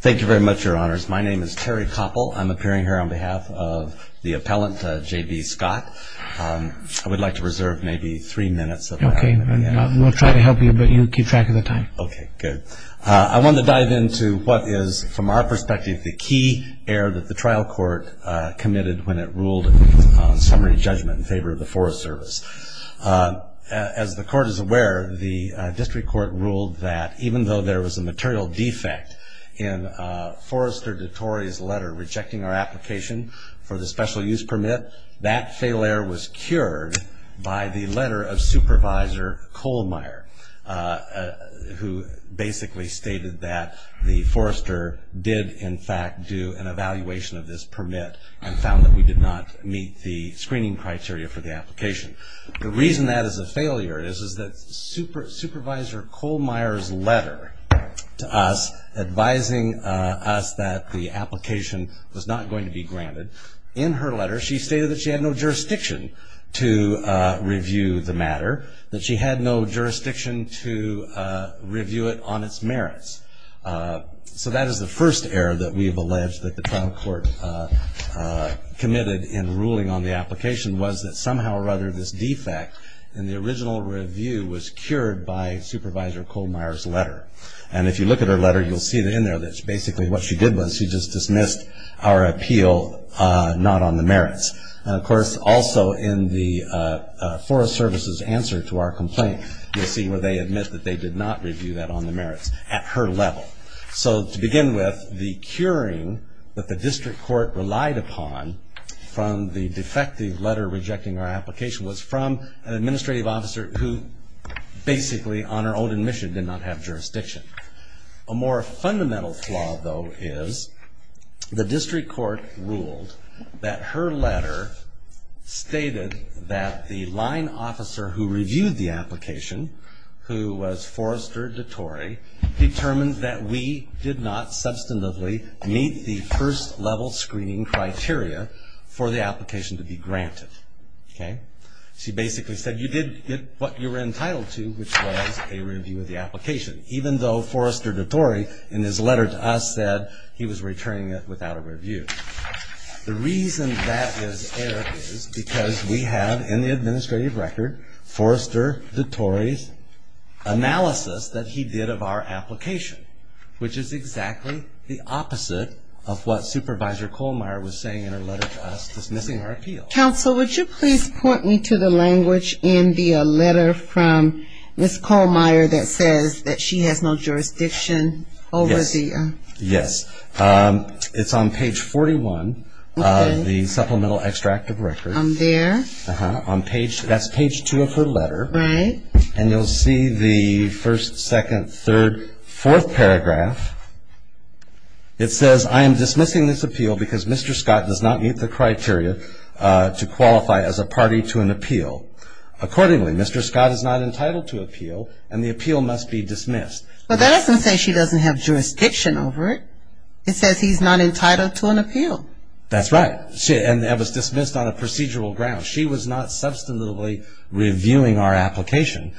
Thank you very much, Your Honors. My name is Terry Koppel. I'm appearing here on behalf of the appellant, J.B. Scott. I would like to reserve maybe three minutes of my time. Okay, and we'll try to help you, but you keep track of the time. Okay, good. I want to dive into what is, from our perspective, the key error that the trial court committed when it ruled on summary judgment in favor of the Forest Service. As the court is aware, the district court ruled that even though there was a material defect in Forrester DeTore's letter rejecting our application for the special use permit, that failure was cured by the letter of Supervisor Kohlmeier, who basically stated that the Forrester did, in fact, do an evaluation of this permit and found that we did not meet the screening criteria for the application. The reason that is a failure is that Supervisor Kohlmeier's letter to us, advising us that the application was not going to be granted, in her letter she stated that she had no jurisdiction to review the matter, that she had no jurisdiction to review it on its merits. So that is the first error that we have alleged that the trial court committed in ruling on the application, was that somehow or other this defect in the original review was cured by Supervisor Kohlmeier's letter. And if you look at her letter, you'll see that in there that basically what she did was she just dismissed our appeal not on the merits. Of course, also in the Forest Service's answer to our complaint, you'll see where they admit that they did not review that on the merits at her level. So to begin with, the curing that the district court relied upon from the defective letter rejecting our application was from an administrative officer who basically, on her own admission, did not have jurisdiction. A more fundamental flaw, though, is the district court ruled that her letter stated that the line officer who reviewed the application, who was Forrester DeTore, determined that we did not substantively meet the first level screening criteria for the application to be granted. She basically said you did what you were entitled to, which was a review of the application, even though Forrester DeTore, in his letter to us, said he was returning it without a review. The reason that is error is because we have in the administrative record Forrester DeTore's analysis that he did of our application, which is exactly the opposite of what Supervisor Kohlmeyer was saying in her letter to us dismissing our appeal. Counsel, would you please point me to the language in the letter from Ms. Kohlmeyer that says that she has no jurisdiction over the Yes, it's on page 41 of the Supplemental Extract of Records. On there? That's page 2 of her letter. Right. And you'll see the first, second, third, fourth paragraph. It says, I am dismissing this appeal because Mr. Scott does not meet the criteria to qualify as a party to an appeal. Accordingly, Mr. Scott is not entitled to appeal and the appeal must be dismissed. But that doesn't say she doesn't have jurisdiction over it. It says he's not entitled to an appeal. That's right. And that was dismissed on a procedural ground. She was not substantively reviewing our application.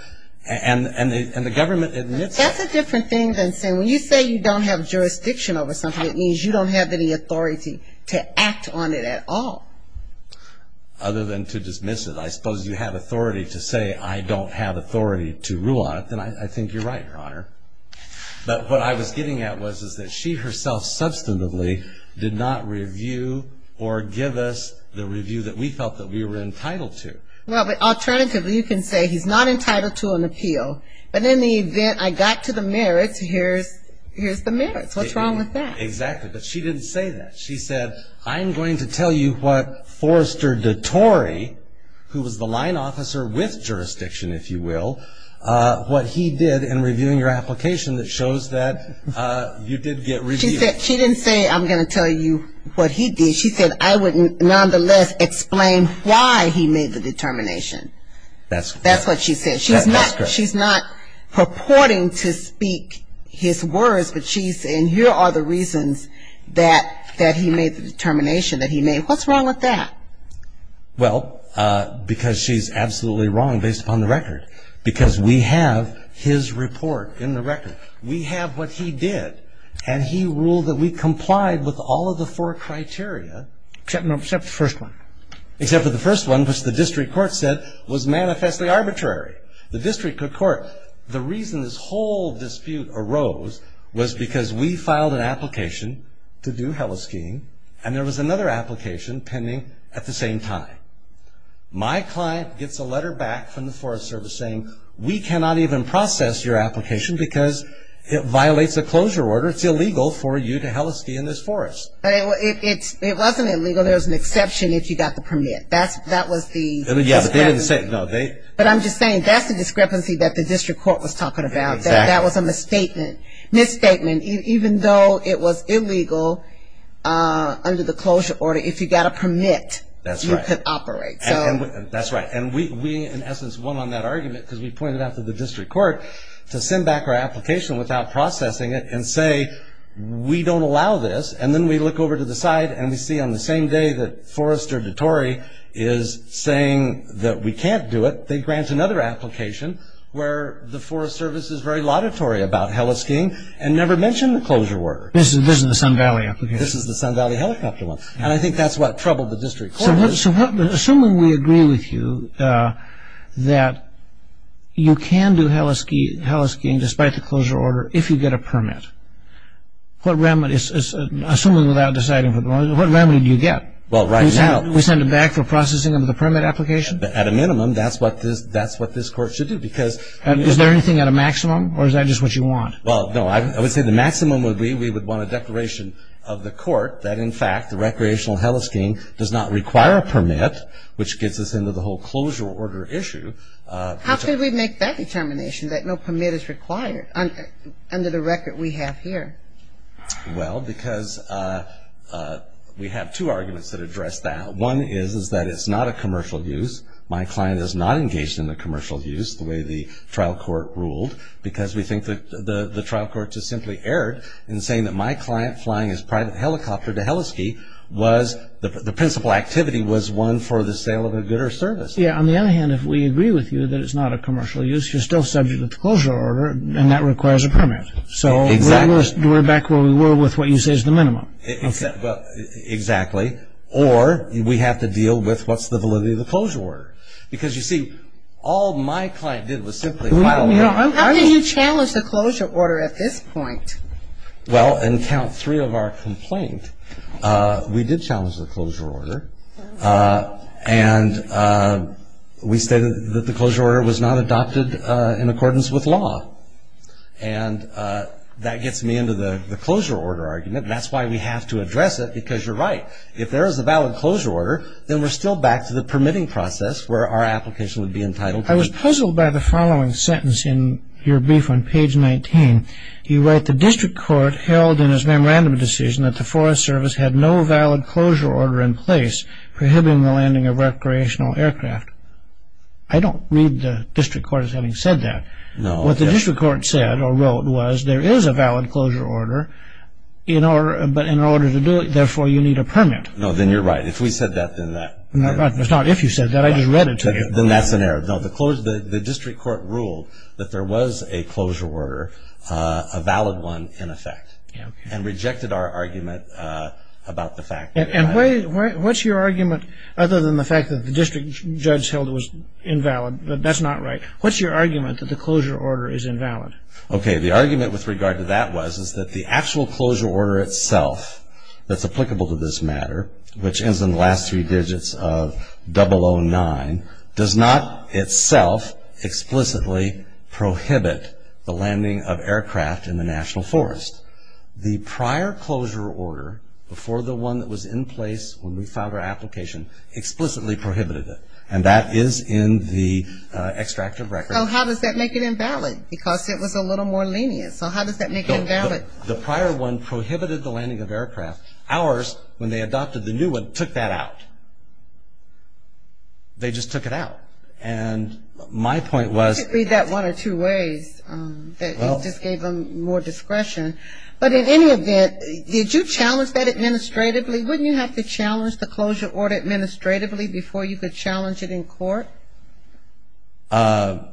And the government admits that. That's a different thing than saying when you say you don't have jurisdiction over something, it means you don't have any authority to act on it at all. Other than to dismiss it. Well, I suppose you have authority to say I don't have authority to rule on it. Then I think you're right, Your Honor. But what I was getting at was that she herself substantively did not review or give us the review that we felt that we were entitled to. Well, but alternatively you can say he's not entitled to an appeal. But in the event I got to the merits, here's the merits. What's wrong with that? Exactly. But she didn't say that. She said, I'm going to tell you what Forrester DeTore, who was the line officer with jurisdiction, if you will, what he did in reviewing your application that shows that you did get reviewed. She didn't say I'm going to tell you what he did. She said I would nonetheless explain why he made the determination. That's correct. That's what she said. She's not purporting to speak his words, but she's saying here are the reasons that he made the determination that he made. What's wrong with that? Well, because she's absolutely wrong based upon the record. Because we have his report in the record. We have what he did. And he ruled that we complied with all of the four criteria. Except the first one. The reason this whole dispute arose was because we filed an application to do heliskiing, and there was another application pending at the same time. My client gets a letter back from the Forest Service saying, we cannot even process your application because it violates a closure order. It's illegal for you to heliskie in this forest. It wasn't illegal. There was an exception if you got the permit. That was the exception. But I'm just saying that's the discrepancy that the district court was talking about. That was a misstatement, even though it was illegal under the closure order. If you got a permit, you could operate. That's right. And we, in essence, won on that argument because we pointed out to the district court to send back our application without processing it and say, we don't allow this. And then we look over to the side, and we see on the same day that Forrester DeTore is saying that we can't do it. They grant another application where the Forest Service is very laudatory about heliskiing and never mentioned the closure order. This is the Sun Valley application. This is the Sun Valley helicopter one. And I think that's what troubled the district court. So assuming we agree with you that you can do heliskiing despite the closure order if you get a permit, assuming without deciding for the moment, what remedy do you get? We send it back for processing under the permit application? At a minimum, that's what this court should do. Is there anything at a maximum, or is that just what you want? I would say the maximum would be we would want a declaration of the court that in fact the recreational heliskiing does not require a permit, which gets us into the whole closure order issue. How can we make that determination that no permit is required under the record we have here? Well, because we have two arguments that address that. One is that it's not a commercial use. My client is not engaged in the commercial use the way the trial court ruled because we think the trial court just simply erred in saying that my client flying his private helicopter to heliskie was the principal activity was one for the sale of a good or service. Yeah, on the other hand, if we agree with you that it's not a commercial use, you're still subject to the closure order, and that requires a permit. Exactly. So we're back where we were with what you say is the minimum. Exactly. Or we have to deal with what's the validity of the closure order. Because you see, all my client did was simply file a complaint. How can you challenge the closure order at this point? Well, in count three of our complaint, we did challenge the closure order. And we stated that the closure order was not adopted in accordance with law. And that gets me into the closure order argument. That's why we have to address it because you're right. If there is a valid closure order, then we're still back to the permitting process where our application would be entitled. I was puzzled by the following sentence in your brief on page 19. You write, I don't read the district court as having said that. No. What the district court said or wrote was there is a valid closure order, but in order to do it, therefore, you need a permit. No, then you're right. If we said that, then that. It's not if you said that. I just read it to you. Then that's an error. No, the district court ruled that there was a closure order, a valid one, in effect. And rejected our argument about the fact. And what's your argument other than the fact that the district judge held it was invalid? That's not right. What's your argument that the closure order is invalid? Okay, the argument with regard to that was is that the actual closure order itself that's applicable to this matter, which ends in the last three digits of 009, does not itself explicitly prohibit the landing of aircraft in the national forest. The prior closure order before the one that was in place when we filed our application explicitly prohibited it. And that is in the extract of record. So how does that make it invalid? Because it was a little more lenient. So how does that make it invalid? The prior one prohibited the landing of aircraft. Ours, when they adopted the new one, took that out. They just took it out. And my point was. You could read that one or two ways. It just gave them more discretion. But in any event, did you challenge that administratively? Wouldn't you have to challenge the closure order administratively before you could challenge it in court? Well,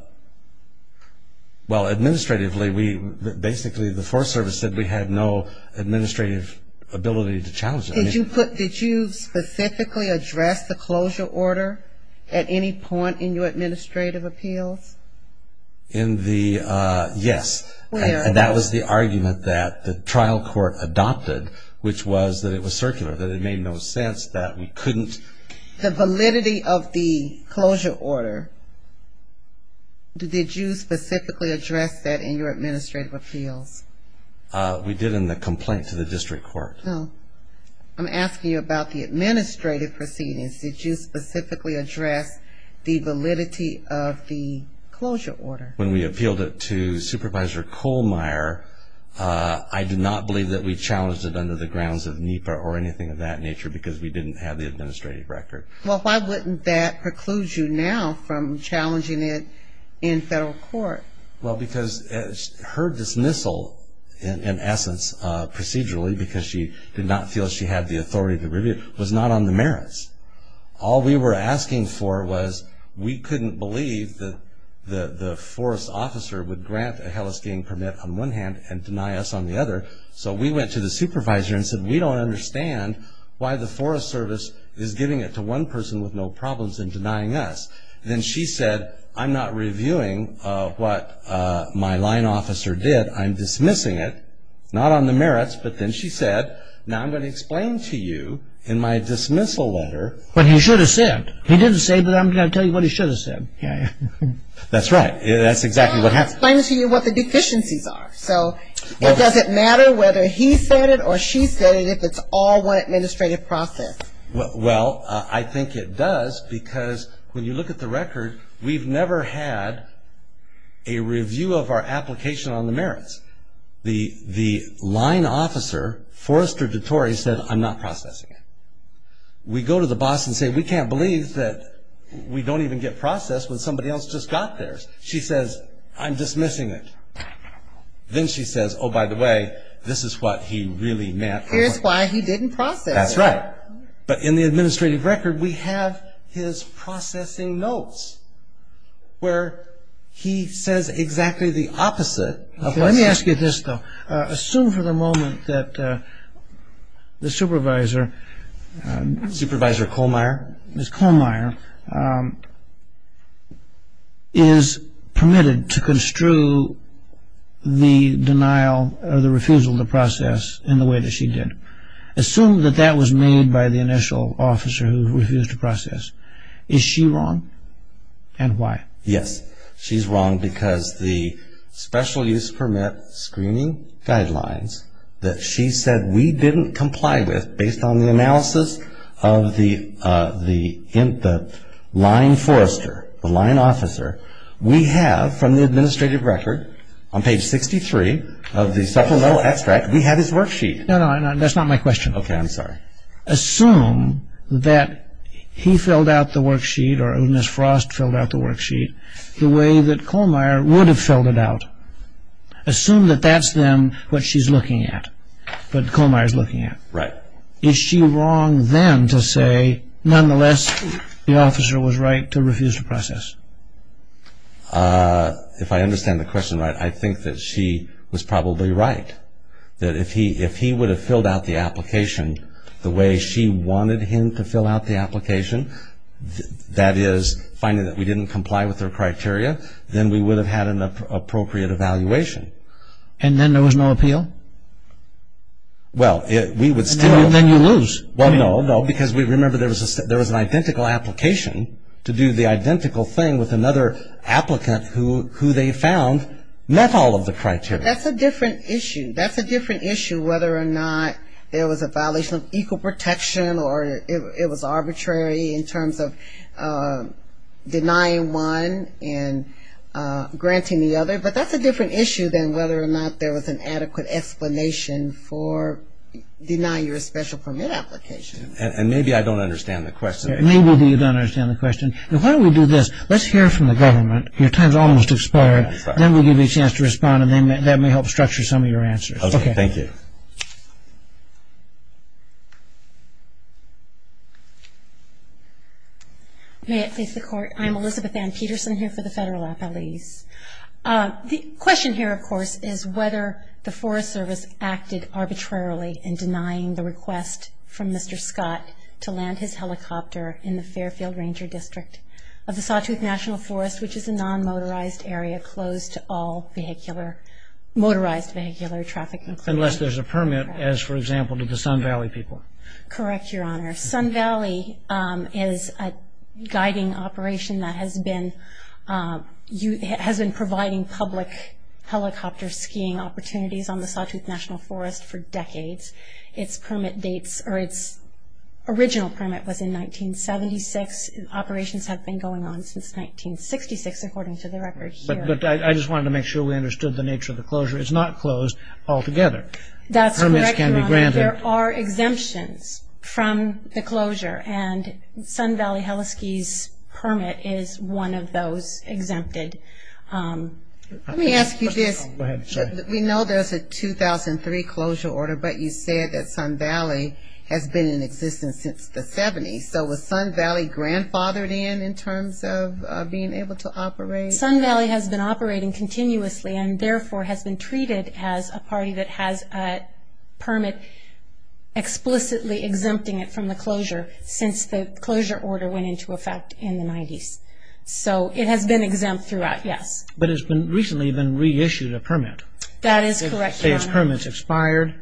administratively, basically the Forest Service said we had no administrative ability to challenge it. Did you specifically address the closure order at any point in your administrative appeals? Yes. And that was the argument that the trial court adopted, which was that it was circular, that it made no sense that we couldn't. The validity of the closure order, did you specifically address that in your administrative appeals? We did in the complaint to the district court. Oh. I'm asking you about the administrative proceedings. Did you specifically address the validity of the closure order? When we appealed it to Supervisor Kohlmeier, I did not believe that we challenged it under the grounds of NEPA or anything of that nature because we didn't have the administrative record. Well, why wouldn't that preclude you now from challenging it in federal court? Well, because her dismissal, in essence, procedurally, because she did not feel she had the authority to review it, was not on the merits. All we were asking for was we couldn't believe that the forest officer would grant a hellisking permit on one hand and deny us on the other, so we went to the supervisor and said, we don't understand why the Forest Service is giving it to one person with no problems and denying us. Then she said, I'm not reviewing what my line officer did. I'm dismissing it, not on the merits. But then she said, now I'm going to explain to you in my dismissal letter. But he should have said. He didn't say, but I'm going to tell you what he should have said. That's right. That's exactly what happened. He didn't explain to you what the deficiencies are. So it doesn't matter whether he said it or she said it if it's all one administrative process. Well, I think it does, because when you look at the record, we've never had a review of our application on the merits. The line officer, Forrester DeTore, said, I'm not processing it. We go to the boss and say, we can't believe that we don't even get processed when somebody else just got theirs. She says, I'm dismissing it. Then she says, oh, by the way, this is what he really meant. Here's why he didn't process it. That's right. But in the administrative record, we have his processing notes where he says exactly the opposite. Let me ask you this, though. Assume for the moment that the supervisor. Supervisor Kohlmeyer. Ms. Kohlmeyer is permitted to construe the denial or the refusal to process in the way that she did. Assume that that was made by the initial officer who refused to process. Is she wrong? And why? Yes, she's wrong because the special use permit screening guidelines that she said we didn't comply with based on the analysis of the line Forrester, the line officer, we have from the administrative record on page 63 of the supplemental extract, we have his worksheet. No, no. That's not my question. Okay. I'm sorry. Assume that he filled out the worksheet or Ms. Frost filled out the worksheet the way that Kohlmeyer would have filled it out. Assume that that's then what she's looking at, what Kohlmeyer's looking at. Right. Is she wrong then to say, nonetheless, the officer was right to refuse to process? If I understand the question right, I think that she was probably right. That if he would have filled out the application the way she wanted him to fill out the application, that is, finding that we didn't comply with her criteria, then we would have had an appropriate evaluation. And then there was no appeal? Well, we would still – And then you lose. Well, no, no, because we remember there was an identical application to do the identical thing with another applicant who they found met all of the criteria. That's a different issue. That's a different issue whether or not there was a violation of equal protection or it was arbitrary in terms of denying one and granting the other. But that's a different issue than whether or not there was an adequate explanation for deny your special permit application. And maybe I don't understand the question. Maybe you don't understand the question. Why don't we do this? Let's hear from the government. Your time's almost expired. Then we'll give you a chance to respond, and that may help structure some of your answers. Okay. Thank you. May it please the Court. I'm Elizabeth Ann Peterson here for the Federal Appellees. The question here, of course, is whether the Forest Service acted arbitrarily in denying the request from Mr. Scott to land his helicopter in the Fairfield Ranger District of the Sawtooth National Forest, which is a non-motorized area closed to all motorized vehicular traffic. Unless there's a permit, as, for example, to the Sun Valley people. Correct, Your Honor. Sun Valley is a guiding operation that has been providing public helicopter skiing opportunities on the Sawtooth National Forest for decades. Its original permit was in 1976. Operations have been going on since 1966, according to the record here. But I just wanted to make sure we understood the nature of the closure. It's not closed altogether. That's correct, Your Honor. Permits can be granted. There are exemptions from the closure, and Sun Valley Heliski's permit is one of those exempted. Let me ask you this. Go ahead. We know there's a 2003 closure order, but you said that Sun Valley has been in existence since the 70s. So was Sun Valley grandfathered in, in terms of being able to operate? Sun Valley has been operating continuously and therefore has been treated as a party that has a permit explicitly exempting it from the closure since the closure order went into effect in the 90s. So it has been exempt throughout, yes. But it's been recently then reissued a permit. That is correct, Your Honor. Its permit's expired.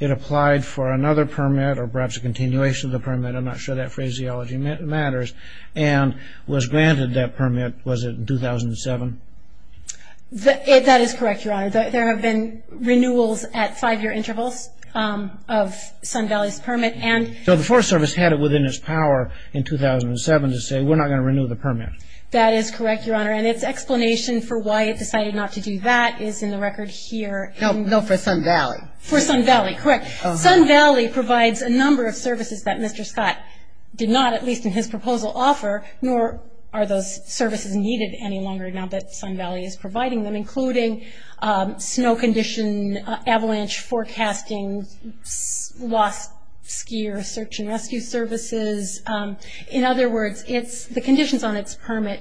It applied for another permit or perhaps a continuation of the permit. I'm not sure that phraseology matters. And was granted that permit, was it in 2007? That is correct, Your Honor. There have been renewals at five-year intervals of Sun Valley's permit. So the Forest Service had it within its power in 2007 to say we're not going to renew the permit. That is correct, Your Honor. And its explanation for why it decided not to do that is in the record here. No, for Sun Valley. For Sun Valley, correct. Sun Valley provides a number of services that Mr. Scott did not, at least in his proposal, offer, nor are those services needed any longer now that Sun Valley is providing them, including snow condition, avalanche forecasting, lost skier search and rescue services. In other words, the conditions on its permit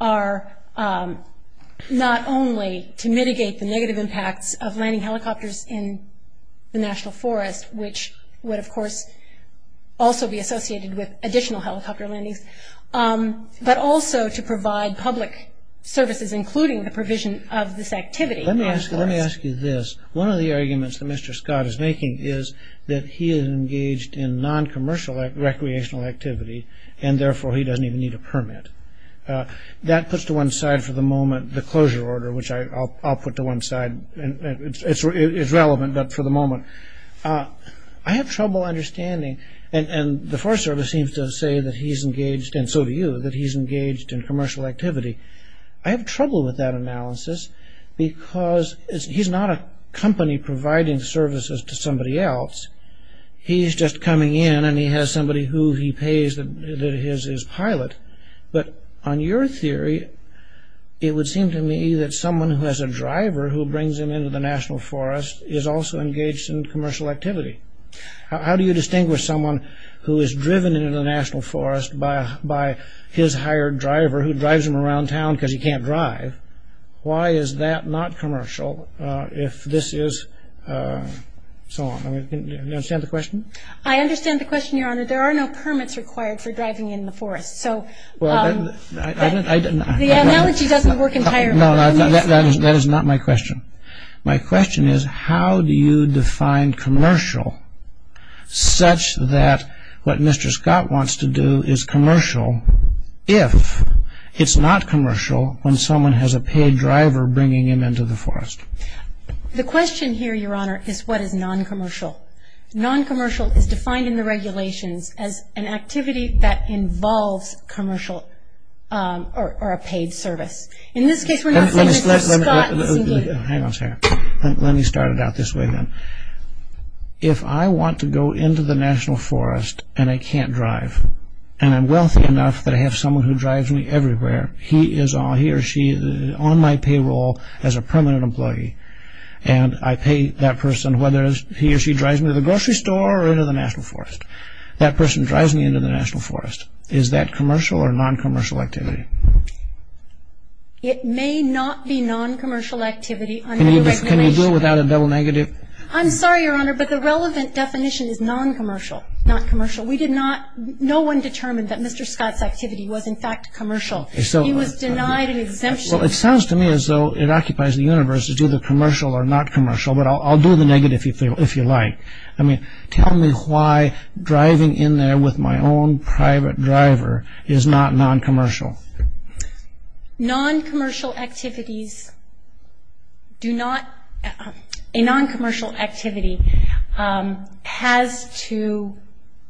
are not only to mitigate the negative impacts of landing helicopters in the National Forest, which would, of course, also be associated with additional helicopter landings, but also to provide public services, including the provision of this activity. Let me ask you this. One of the arguments that Mr. Scott is making is that he is engaged in noncommercial recreational activity, and therefore he doesn't even need a permit. That puts to one side for the moment the closure order, which I'll put to one side. It's relevant, but for the moment. I have trouble understanding, and the Forest Service seems to say that he's engaged, and so do you, that he's engaged in commercial activity. I have trouble with that analysis because he's not a company providing services to somebody else. He's just coming in, and he has somebody who he pays that is his pilot. But on your theory, it would seem to me that someone who has a driver who brings him into the National Forest is also engaged in commercial activity. How do you distinguish someone who is driven into the National Forest by his hired driver who drives him around town because he can't drive? Why is that not commercial if this is so on? Do you understand the question? I understand the question, Your Honor. There are no permits required for driving in the forest. So the analogy doesn't work entirely. No, that is not my question. My question is how do you define commercial such that what Mr. Scott wants to do is commercial if it's not commercial when someone has a paid driver bringing him into the forest? The question here, Your Honor, is what is noncommercial? Noncommercial is defined in the regulations as an activity that involves commercial or a paid service. In this case, we're not saying Mr. Scott is engaged. Hang on a second. Let me start it out this way then. If I want to go into the National Forest and I can't drive and I'm wealthy enough that I have someone who drives me everywhere, he or she is on my payroll as a permanent employee, and I pay that person whether he or she drives me to the grocery store or into the National Forest. That person drives me into the National Forest. Is that commercial or noncommercial activity? It may not be noncommercial activity under the regulations. Can you do it without a double negative? I'm sorry, Your Honor, but the relevant definition is noncommercial, not commercial. We did not ñ no one determined that Mr. Scott's activity was in fact commercial. He was denied an exemption. Well, it sounds to me as though it occupies the universe to do the commercial or noncommercial, but I'll do the negative if you like. I mean, tell me why driving in there with my own private driver is not noncommercial. Noncommercial activities do not ñ a noncommercial activity has to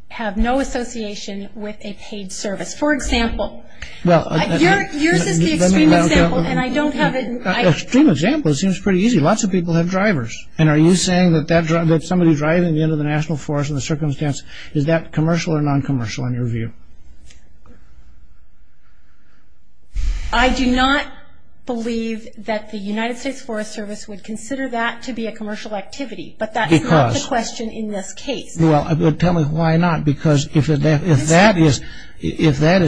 have no association with a paid service. For example, yours is the extreme example and I don't have it ñ Extreme example? It seems pretty easy. Lots of people have drivers, and are you saying that somebody driving you into the National Forest in the circumstance, is that commercial or noncommercial in your view? I do not believe that the United States Forest Service would consider that to be a commercial activity, but that's not the question in this case. Well, tell me why not, because if that is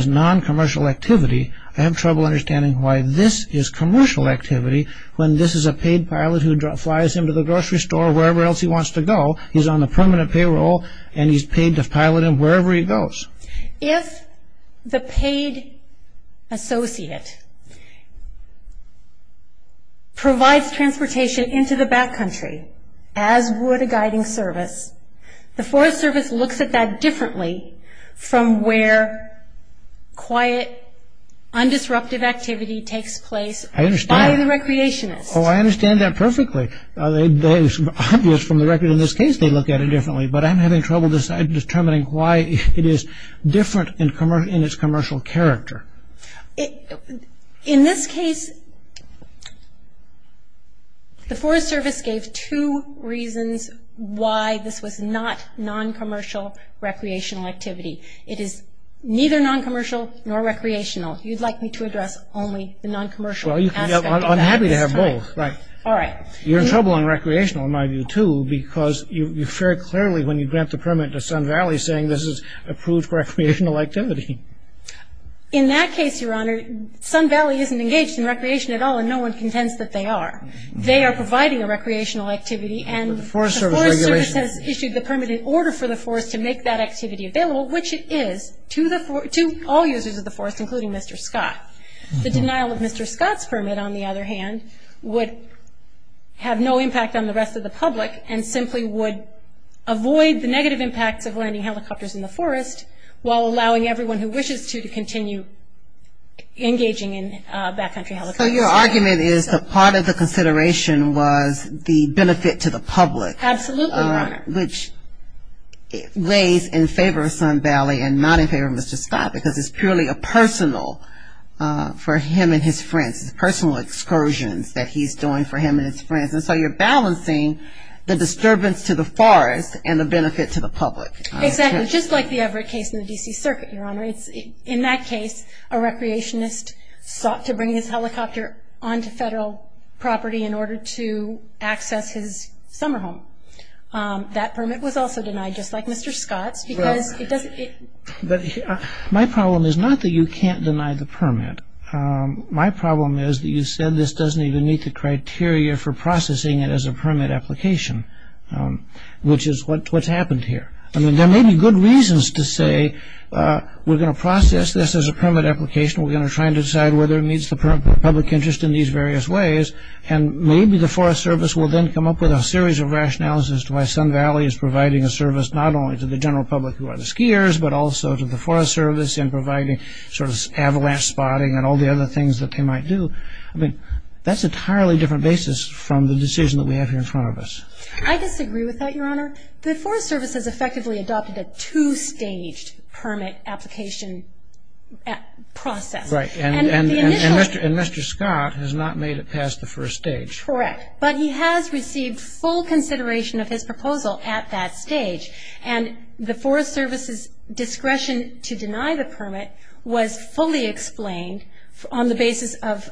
noncommercial activity, I have trouble understanding why this is commercial activity when this is a paid pilot who flies him to the grocery store or wherever else he wants to go. He's on the payroll, he's on the permanent payroll, and he's paid to pilot him wherever he goes. If the paid associate provides transportation into the back country, as would a guiding service, the Forest Service looks at that differently from where quiet, undisruptive activity takes place by the recreationist. I understand that perfectly. It's obvious from the record in this case they look at it differently, but I'm having trouble determining why it is different in its commercial character. In this case, the Forest Service gave two reasons why this was not noncommercial recreational activity. It is neither noncommercial nor recreational. If you'd like me to address only the noncommercial aspect of that. I'm happy to have both. Right. All right. You're in trouble on recreational, in my view, too, because you've shared clearly when you grant the permit to Sun Valley, saying this is approved recreational activity. In that case, Your Honor, Sun Valley isn't engaged in recreation at all, and no one contends that they are. They are providing a recreational activity, and the Forest Service has issued the permit in order for the forest to make that activity available, which it is, to all users of the forest, including Mr. Scott. The denial of Mr. Scott's permit, on the other hand, would have no impact on the rest of the public and simply would avoid the negative impacts of landing helicopters in the forest, while allowing everyone who wishes to to continue engaging in backcountry helicopters. So your argument is that part of the consideration was the benefit to the public. Absolutely, Your Honor. Which lays in favor of Sun Valley and not in favor of Mr. Scott, because it's purely a personal, for him and his friends, personal excursions that he's doing for him and his friends. And so you're balancing the disturbance to the forest and the benefit to the public. Exactly. Just like the Everett case in the D.C. Circuit, Your Honor. In that case, a recreationist sought to bring his helicopter onto federal property in order to access his summer home. That permit was also denied, just like Mr. Scott's. My problem is not that you can't deny the permit. My problem is that you said this doesn't even meet the criteria for processing it as a permit application, which is what's happened here. I mean, there may be good reasons to say we're going to process this as a permit application, we're going to try and decide whether it meets the public interest in these various ways, and maybe the Forest Service will then come up with a series of rationales as to why Sun Valley is providing a service not only to the general public who are the skiers, but also to the Forest Service in providing sort of avalanche spotting and all the other things that they might do. I mean, that's an entirely different basis from the decision that we have here in front of us. I disagree with that, Your Honor. The Forest Service has effectively adopted a two-staged permit application process. And Mr. Scott has not made it past the first stage. Correct. But he has received full consideration of his proposal at that stage. And the Forest Service's discretion to deny the permit was fully explained on the basis of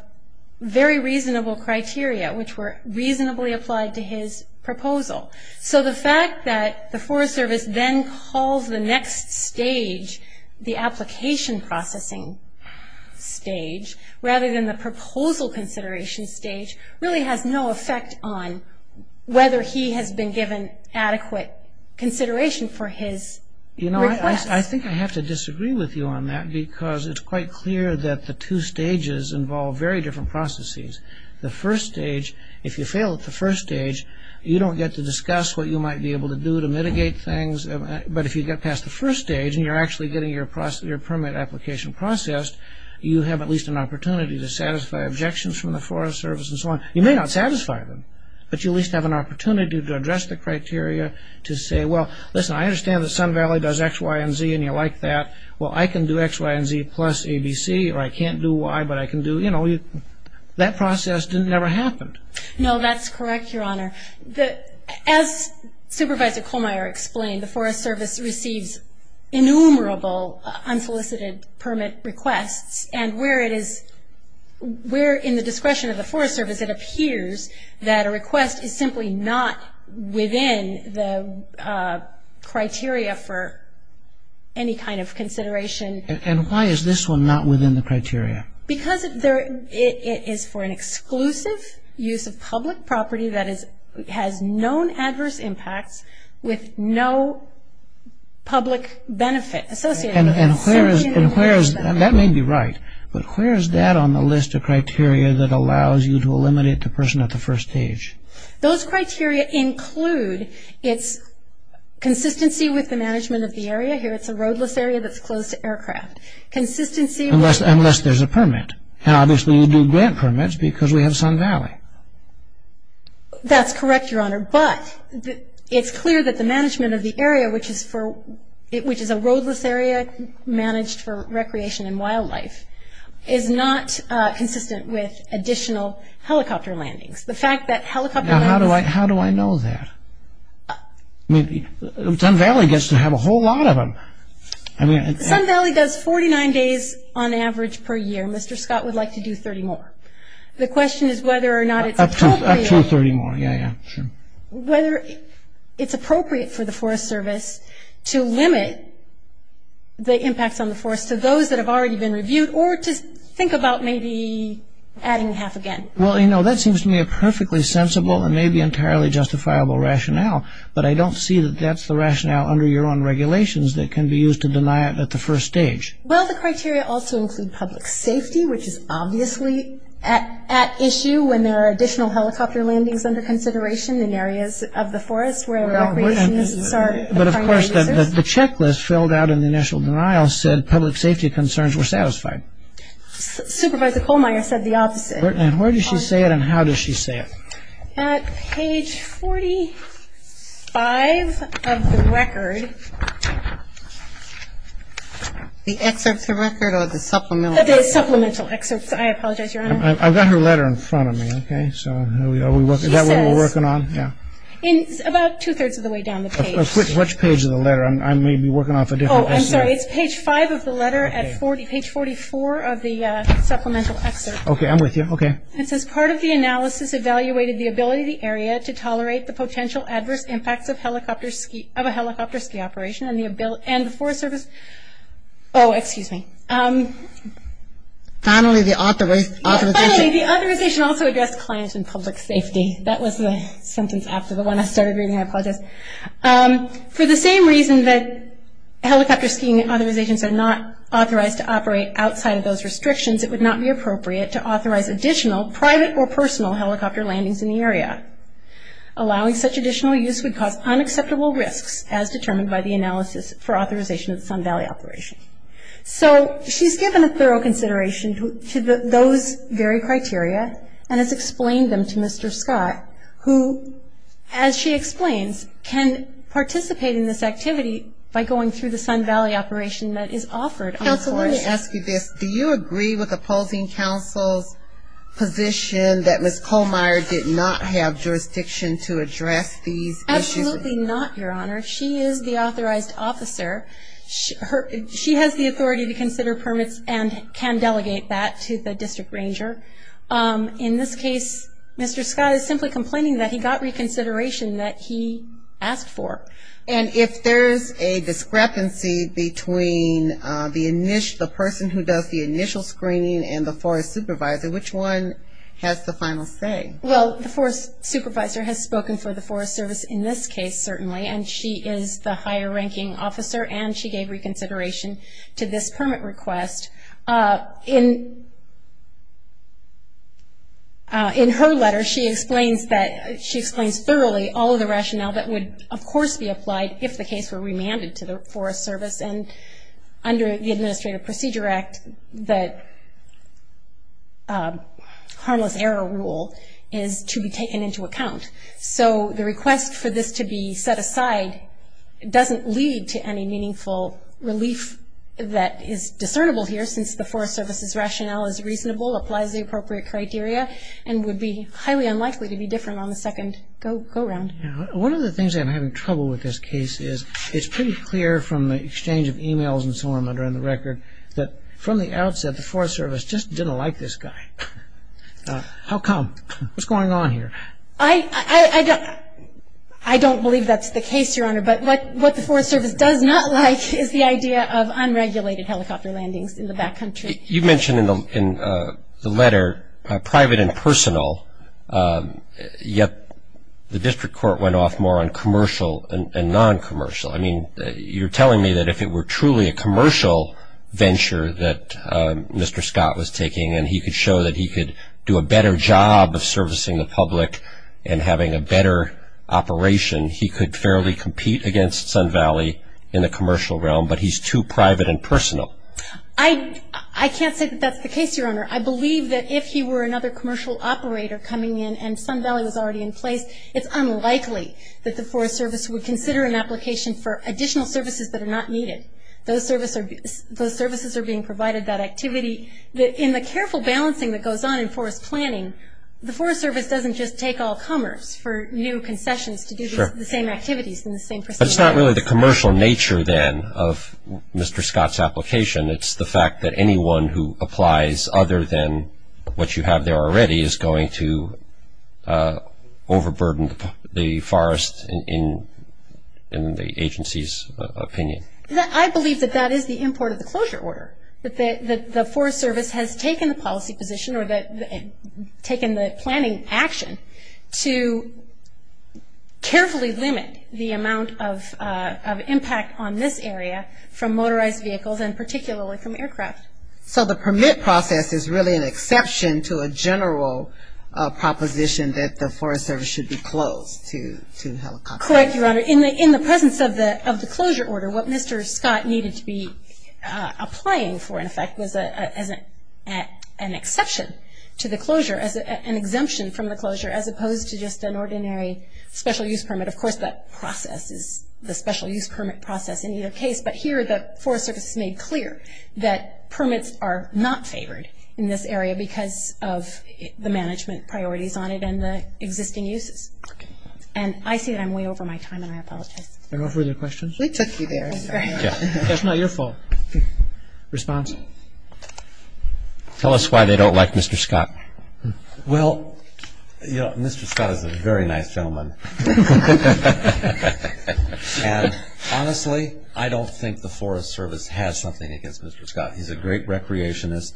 very reasonable criteria, which were reasonably applied to his proposal. So the fact that the Forest Service then calls the next stage the application processing stage, rather than the proposal consideration stage, really has no effect on whether he has been given adequate consideration for his request. You know, I think I have to disagree with you on that, because it's quite clear that the two stages involve very different processes. The first stage, if you fail at the first stage, you don't get to discuss what you might be able to do to mitigate things. But if you get past the first stage and you're actually getting your permit application processed, you have at least an opportunity to satisfy objections from the Forest Service and so on. You may not satisfy them, but you at least have an opportunity to address the criteria, to say, well, listen, I understand that Sun Valley does X, Y, and Z, and you like that. Well, I can do X, Y, and Z plus ABC, or I can't do Y, but I can do, you know, that process never happened. No, that's correct, Your Honor. As Supervisor Colmeyer explained, the Forest Service receives innumerable unsolicited permit requests, and where it is we're in the discretion of the Forest Service, it appears that a request is simply not within the criteria for any kind of consideration. Because it is for an exclusive use of public property that has known adverse impacts with no public benefit associated with it. And that may be right, but where is that on the list of criteria that allows you to eliminate the person at the first stage? Those criteria include its consistency with the management of the area. Here it's a roadless area that's closed to aircraft. Unless there's a permit. Now, obviously, we do grant permits because we have Sun Valley. That's correct, Your Honor, but it's clear that the management of the area, which is a roadless area managed for recreation and wildlife, is not consistent with additional helicopter landings. Now, how do I know that? Sun Valley does 49 days on average per year. Mr. Scott would like to do 30 more. The question is whether or not it's appropriate. Up to 30 more, yeah, yeah, sure. Whether it's appropriate for the Forest Service to limit the impacts on the forest to those that have already been reviewed or to think about maybe adding half again. Well, you know, that seems to me a perfectly sensible and maybe entirely justifiable rationale, but I don't see that that's the rationale under your own regulations that can be used to deny it at the first stage. Well, the criteria also include public safety, which is obviously at issue when there are additional helicopter landings under consideration in areas of the forest where recreationists are the primary users. But, of course, the checklist filled out in the initial denial said public safety concerns were satisfied. Supervisor Kohlmeyer said the opposite. And where does she say it and how does she say it? At page 45 of the record. The excerpt of the record or the supplemental? The supplemental excerpt. I apologize, Your Honor. I've got her letter in front of me, okay? So is that what we're working on? Yeah. It's about two-thirds of the way down the page. Which page of the letter? I may be working off a different page. Oh, I'm sorry. It's page 5 of the letter at page 44 of the supplemental excerpt. Okay, I'm with you. Okay. It says part of the analysis evaluated the ability of the area to tolerate the potential adverse impacts of a helicopter ski operation and the forest service. Oh, excuse me. Finally, the authorization. Finally, the authorization also addressed clients and public safety. That was the sentence after the one I started reading. I apologize. For the same reason that helicopter skiing authorizations are not authorized to operate outside of those restrictions, it would not be appropriate to authorize additional private or personal helicopter landings in the area. Allowing such additional use would cause unacceptable risks as determined by the analysis for authorization of the Sun Valley operation. So she's given a thorough consideration to those very criteria and has explained them to Mr. Scott who, as she explains, can participate in this activity by going through the Sun Valley operation that is offered on the forest. Let me ask you this. Do you agree with opposing counsel's position that Ms. Kohlmeier did not have jurisdiction to address these issues? Absolutely not, Your Honor. She is the authorized officer. She has the authority to consider permits and can delegate that to the district ranger. In this case, Mr. Scott is simply complaining that he got reconsideration that he asked for. And if there's a discrepancy between the person who does the initial screening and the forest supervisor, which one has the final say? Well, the forest supervisor has spoken for the Forest Service in this case, certainly, and she is the higher ranking officer and she gave reconsideration to this permit request. In her letter, she explains thoroughly all of the rationale that would, of course, be applied if the case were remanded to the Forest Service. And under the Administrative Procedure Act, the harmless error rule is to be taken into account. So the request for this to be set aside doesn't lead to any meaningful relief that is discernible here, since the Forest Service's rationale is reasonable, applies the appropriate criteria, and would be highly unlikely to be different on the second go-round. One of the things I'm having trouble with this case is it's pretty clear from the exchange of e-mails and so on under the record that from the outset the Forest Service just didn't like this guy. How come? What's going on here? I don't believe that's the case, Your Honor, but what the Forest Service does not like is the idea of unregulated helicopter landings in the backcountry. You mentioned in the letter private and personal, yet the district court went off more on commercial and non-commercial. I mean, you're telling me that if it were truly a commercial venture that Mr. Scott was taking and he could show that he could do a better job of servicing the public and having a better operation, he could fairly compete against Sun Valley in the commercial realm, but he's too private and personal. I can't say that that's the case, Your Honor. I believe that if he were another commercial operator coming in and Sun Valley was already in place, it's unlikely that the Forest Service would consider an application for additional services that are not needed. Those services are being provided, that activity. In the careful balancing that goes on in forest planning, the Forest Service doesn't just take all comers for new concessions to do the same activities in the same percentiles. But it's not really the commercial nature, then, of Mr. Scott's application. It's the fact that anyone who applies other than what you have there already is going to overburden the forest in the agency's opinion. I believe that that is the import of the closure order, that the Forest Service has taken the policy position or taken the planning action to carefully limit the amount of impact on this area from motorized vehicles and particularly from aircraft. So the permit process is really an exception to a general proposition that the Forest Service should be closed to helicopters. Correct, Your Honor. In the presence of the closure order, what Mr. Scott needed to be applying for, in effect, was an exception to the closure, an exemption from the closure, as opposed to just an ordinary special use permit. Of course, that process is the special use permit process in either case, but here the Forest Service has made clear that permits are not favored in this area because of the management priorities on it and the existing uses. Okay. And I see that I'm way over my time and I apologize. Are there no further questions? We took you there. That's not your fault. Response? Tell us why they don't like Mr. Scott. Well, you know, Mr. Scott is a very nice gentleman. And honestly, I don't think the Forest Service has something against Mr. Scott. He's a great recreationist,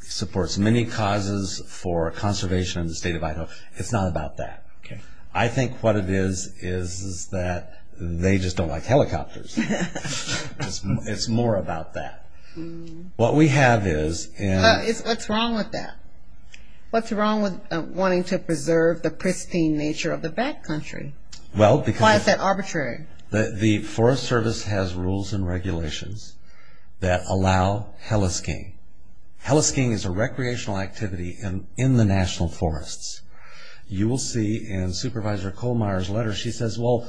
supports many causes for conservation in the state of Idaho. It's not about that. Okay. I think what it is is that they just don't like helicopters. It's more about that. What we have is in- What's wrong with that? What's wrong with wanting to preserve the pristine nature of the back country? Well, because- Why is that arbitrary? The Forest Service has rules and regulations that allow helisking. Helisking is a recreational activity in the national forests. You will see in Supervisor Kohlmeier's letter, she says, Well,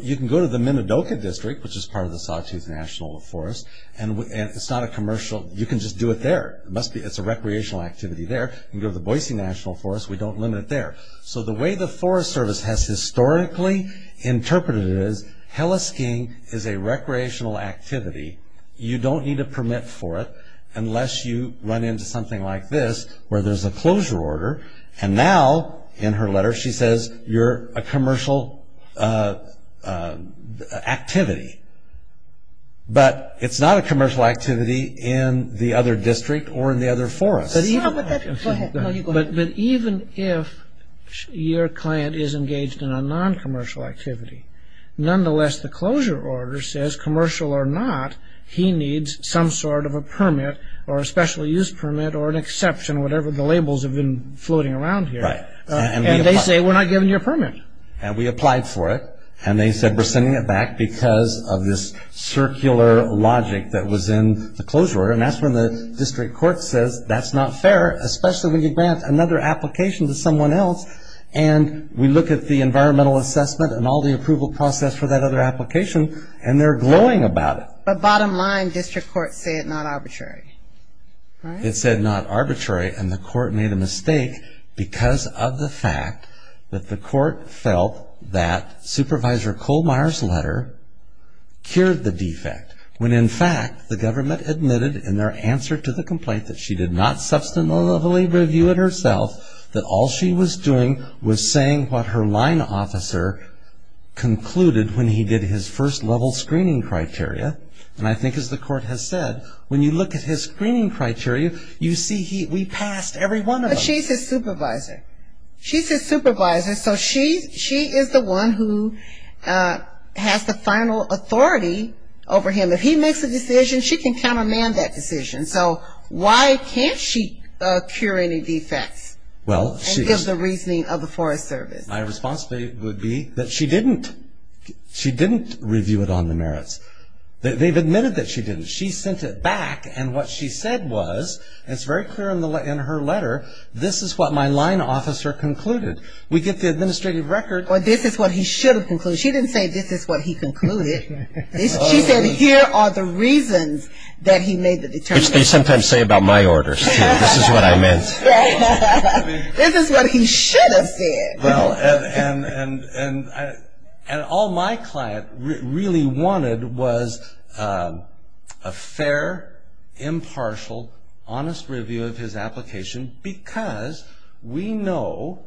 you can go to the Minidoka District, which is part of the Sawtooth National Forest, and it's not a commercial- You can just do it there. It's a recreational activity there. You can go to the Boise National Forest. We don't limit it there. So the way the Forest Service has historically interpreted it is helisking is a recreational activity. You don't need a permit for it unless you run into something like this where there's a closure order. And now, in her letter, she says you're a commercial activity. But it's not a commercial activity in the other district or in the other forests. But even if your client is engaged in a non-commercial activity, nonetheless, the closure order says, commercial or not, he needs some sort of a permit or a special use permit or an exception, whatever the labels have been floating around here. And they say, We're not giving you a permit. And we applied for it, and they said, We're sending it back because of this circular logic that was in the closure order. And that's when the district court says, That's not fair, especially when you grant another application to someone else. And we look at the environmental assessment and all the approval process for that other application, and they're glowing about it. But bottom line, district court said not arbitrary. It said not arbitrary, and the court made a mistake because of the fact that the court felt that Supervisor Kohlmeyer's letter cured the defect when, in fact, the government admitted in their answer to the complaint that she did not substantively review it herself, that all she was doing was saying what her line officer concluded when he did his first level screening criteria. And I think as the court has said, when you look at his screening criteria, you see we passed every one of them. But she's his supervisor. She's his supervisor, so she is the one who has the final authority over him. If he makes a decision, she can countermand that decision. So why can't she cure any defects and give the reasoning of the Forest Service? My response would be that she didn't. She didn't review it on the merits. They've admitted that she didn't. She sent it back, and what she said was, and it's very clear in her letter, this is what my line officer concluded. We get the administrative record. Well, this is what he should have concluded. She didn't say this is what he concluded. She said here are the reasons that he made the determination. Which they sometimes say about my orders, too. This is what I meant. This is what he should have said. Well, and all my client really wanted was a fair, impartial, honest review of his application, because we know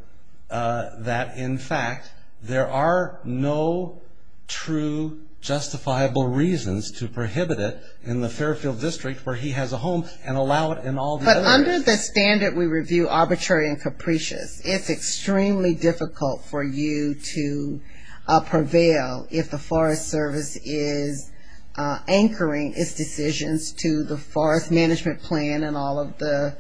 that, in fact, there are no true justifiable reasons to prohibit it in the Fairfield District where he has a home and allow it in all the other areas. But under the standard we review, arbitrary and capricious, it's extremely difficult for you to prevail if the Forest Service is anchoring its decisions to the Forest Management Plan and all of the...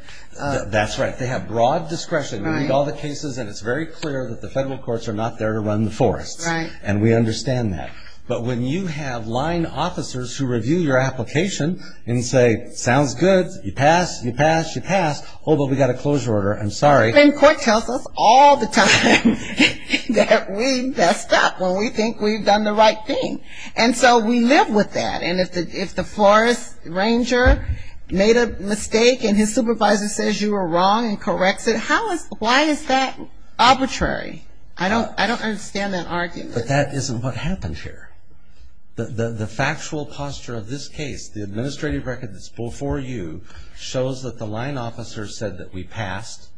That's right. They have broad discretion. We read all the cases, and it's very clear that the federal courts are not there to run the forests. And we understand that. But when you have line officers who review your application and say, sounds good, you pass, you pass, you pass, although we've got a closure order, I'm sorry. And court tells us all the time that we messed up when we think we've done the right thing. And so we live with that. And if the forest ranger made a mistake and his supervisor says you were wrong and corrects it, why is that arbitrary? I don't understand that argument. But that isn't what happened here. The factual posture of this case, the administrative record that's before you, shows that the line officer said that we passed.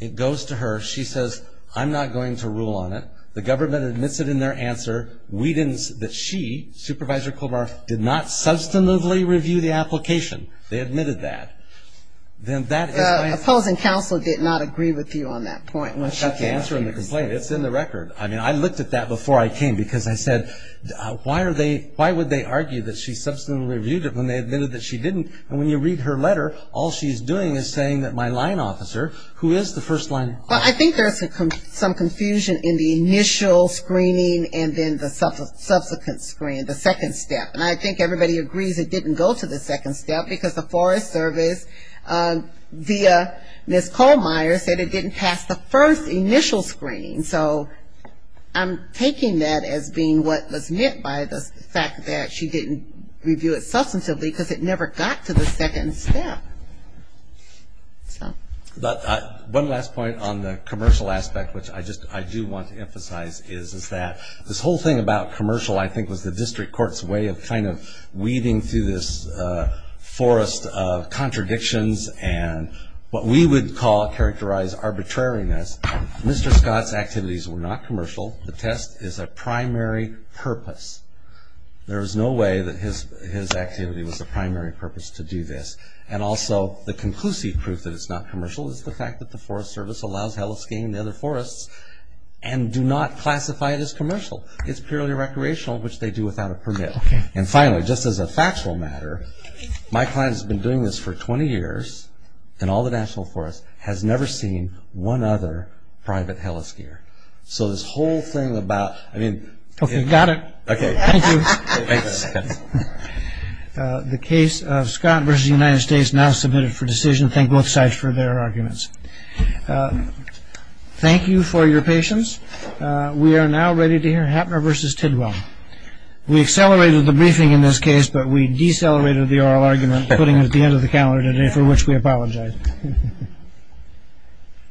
It goes to her. She says, I'm not going to rule on it. The government admits it in their answer. We didn't say that she, Supervisor Cobar, did not substantively review the application. They admitted that. The opposing counsel did not agree with you on that point. She got the answer in the complaint. It's in the record. I mean, I looked at that before I came because I said, why would they argue that she substantively reviewed it when they admitted that she didn't? And when you read her letter, all she's doing is saying that my line officer, who is the first line officer? Well, I think there's some confusion in the initial screening and then the subsequent screening, the second step. And I think everybody agrees it didn't go to the second step because the Forest Service, via Ms. Kohlmeier, said it didn't pass the first initial screening. So I'm taking that as being what was meant by the fact that she didn't review it substantively because it never got to the second step. One last point on the commercial aspect, which I do want to emphasize, is that this whole thing about commercial, I think, was the district court's way of kind of weaving through this forest of contradictions and what we would call characterized arbitrariness. Mr. Scott's activities were not commercial. The test is a primary purpose. There is no way that his activity was a primary purpose to do this. And also the conclusive proof that it's not commercial is the fact that the Forest Service allows heli-skiing in the other forests and do not classify it as commercial. It's purely recreational, which they do without a permit. And finally, just as a factual matter, my client has been doing this for 20 years and all the national forest has never seen one other private heli-skier. So this whole thing about, I mean. Okay, got it. Okay. Thank you. Thanks, Scott. The case of Scott versus the United States now submitted for decision. Thank both sides for their arguments. Thank you for your patience. We are now ready to hear Hapner versus Tidwell. We accelerated the briefing in this case, but we decelerated the oral argument putting it at the end of the calendar today, for which we apologize.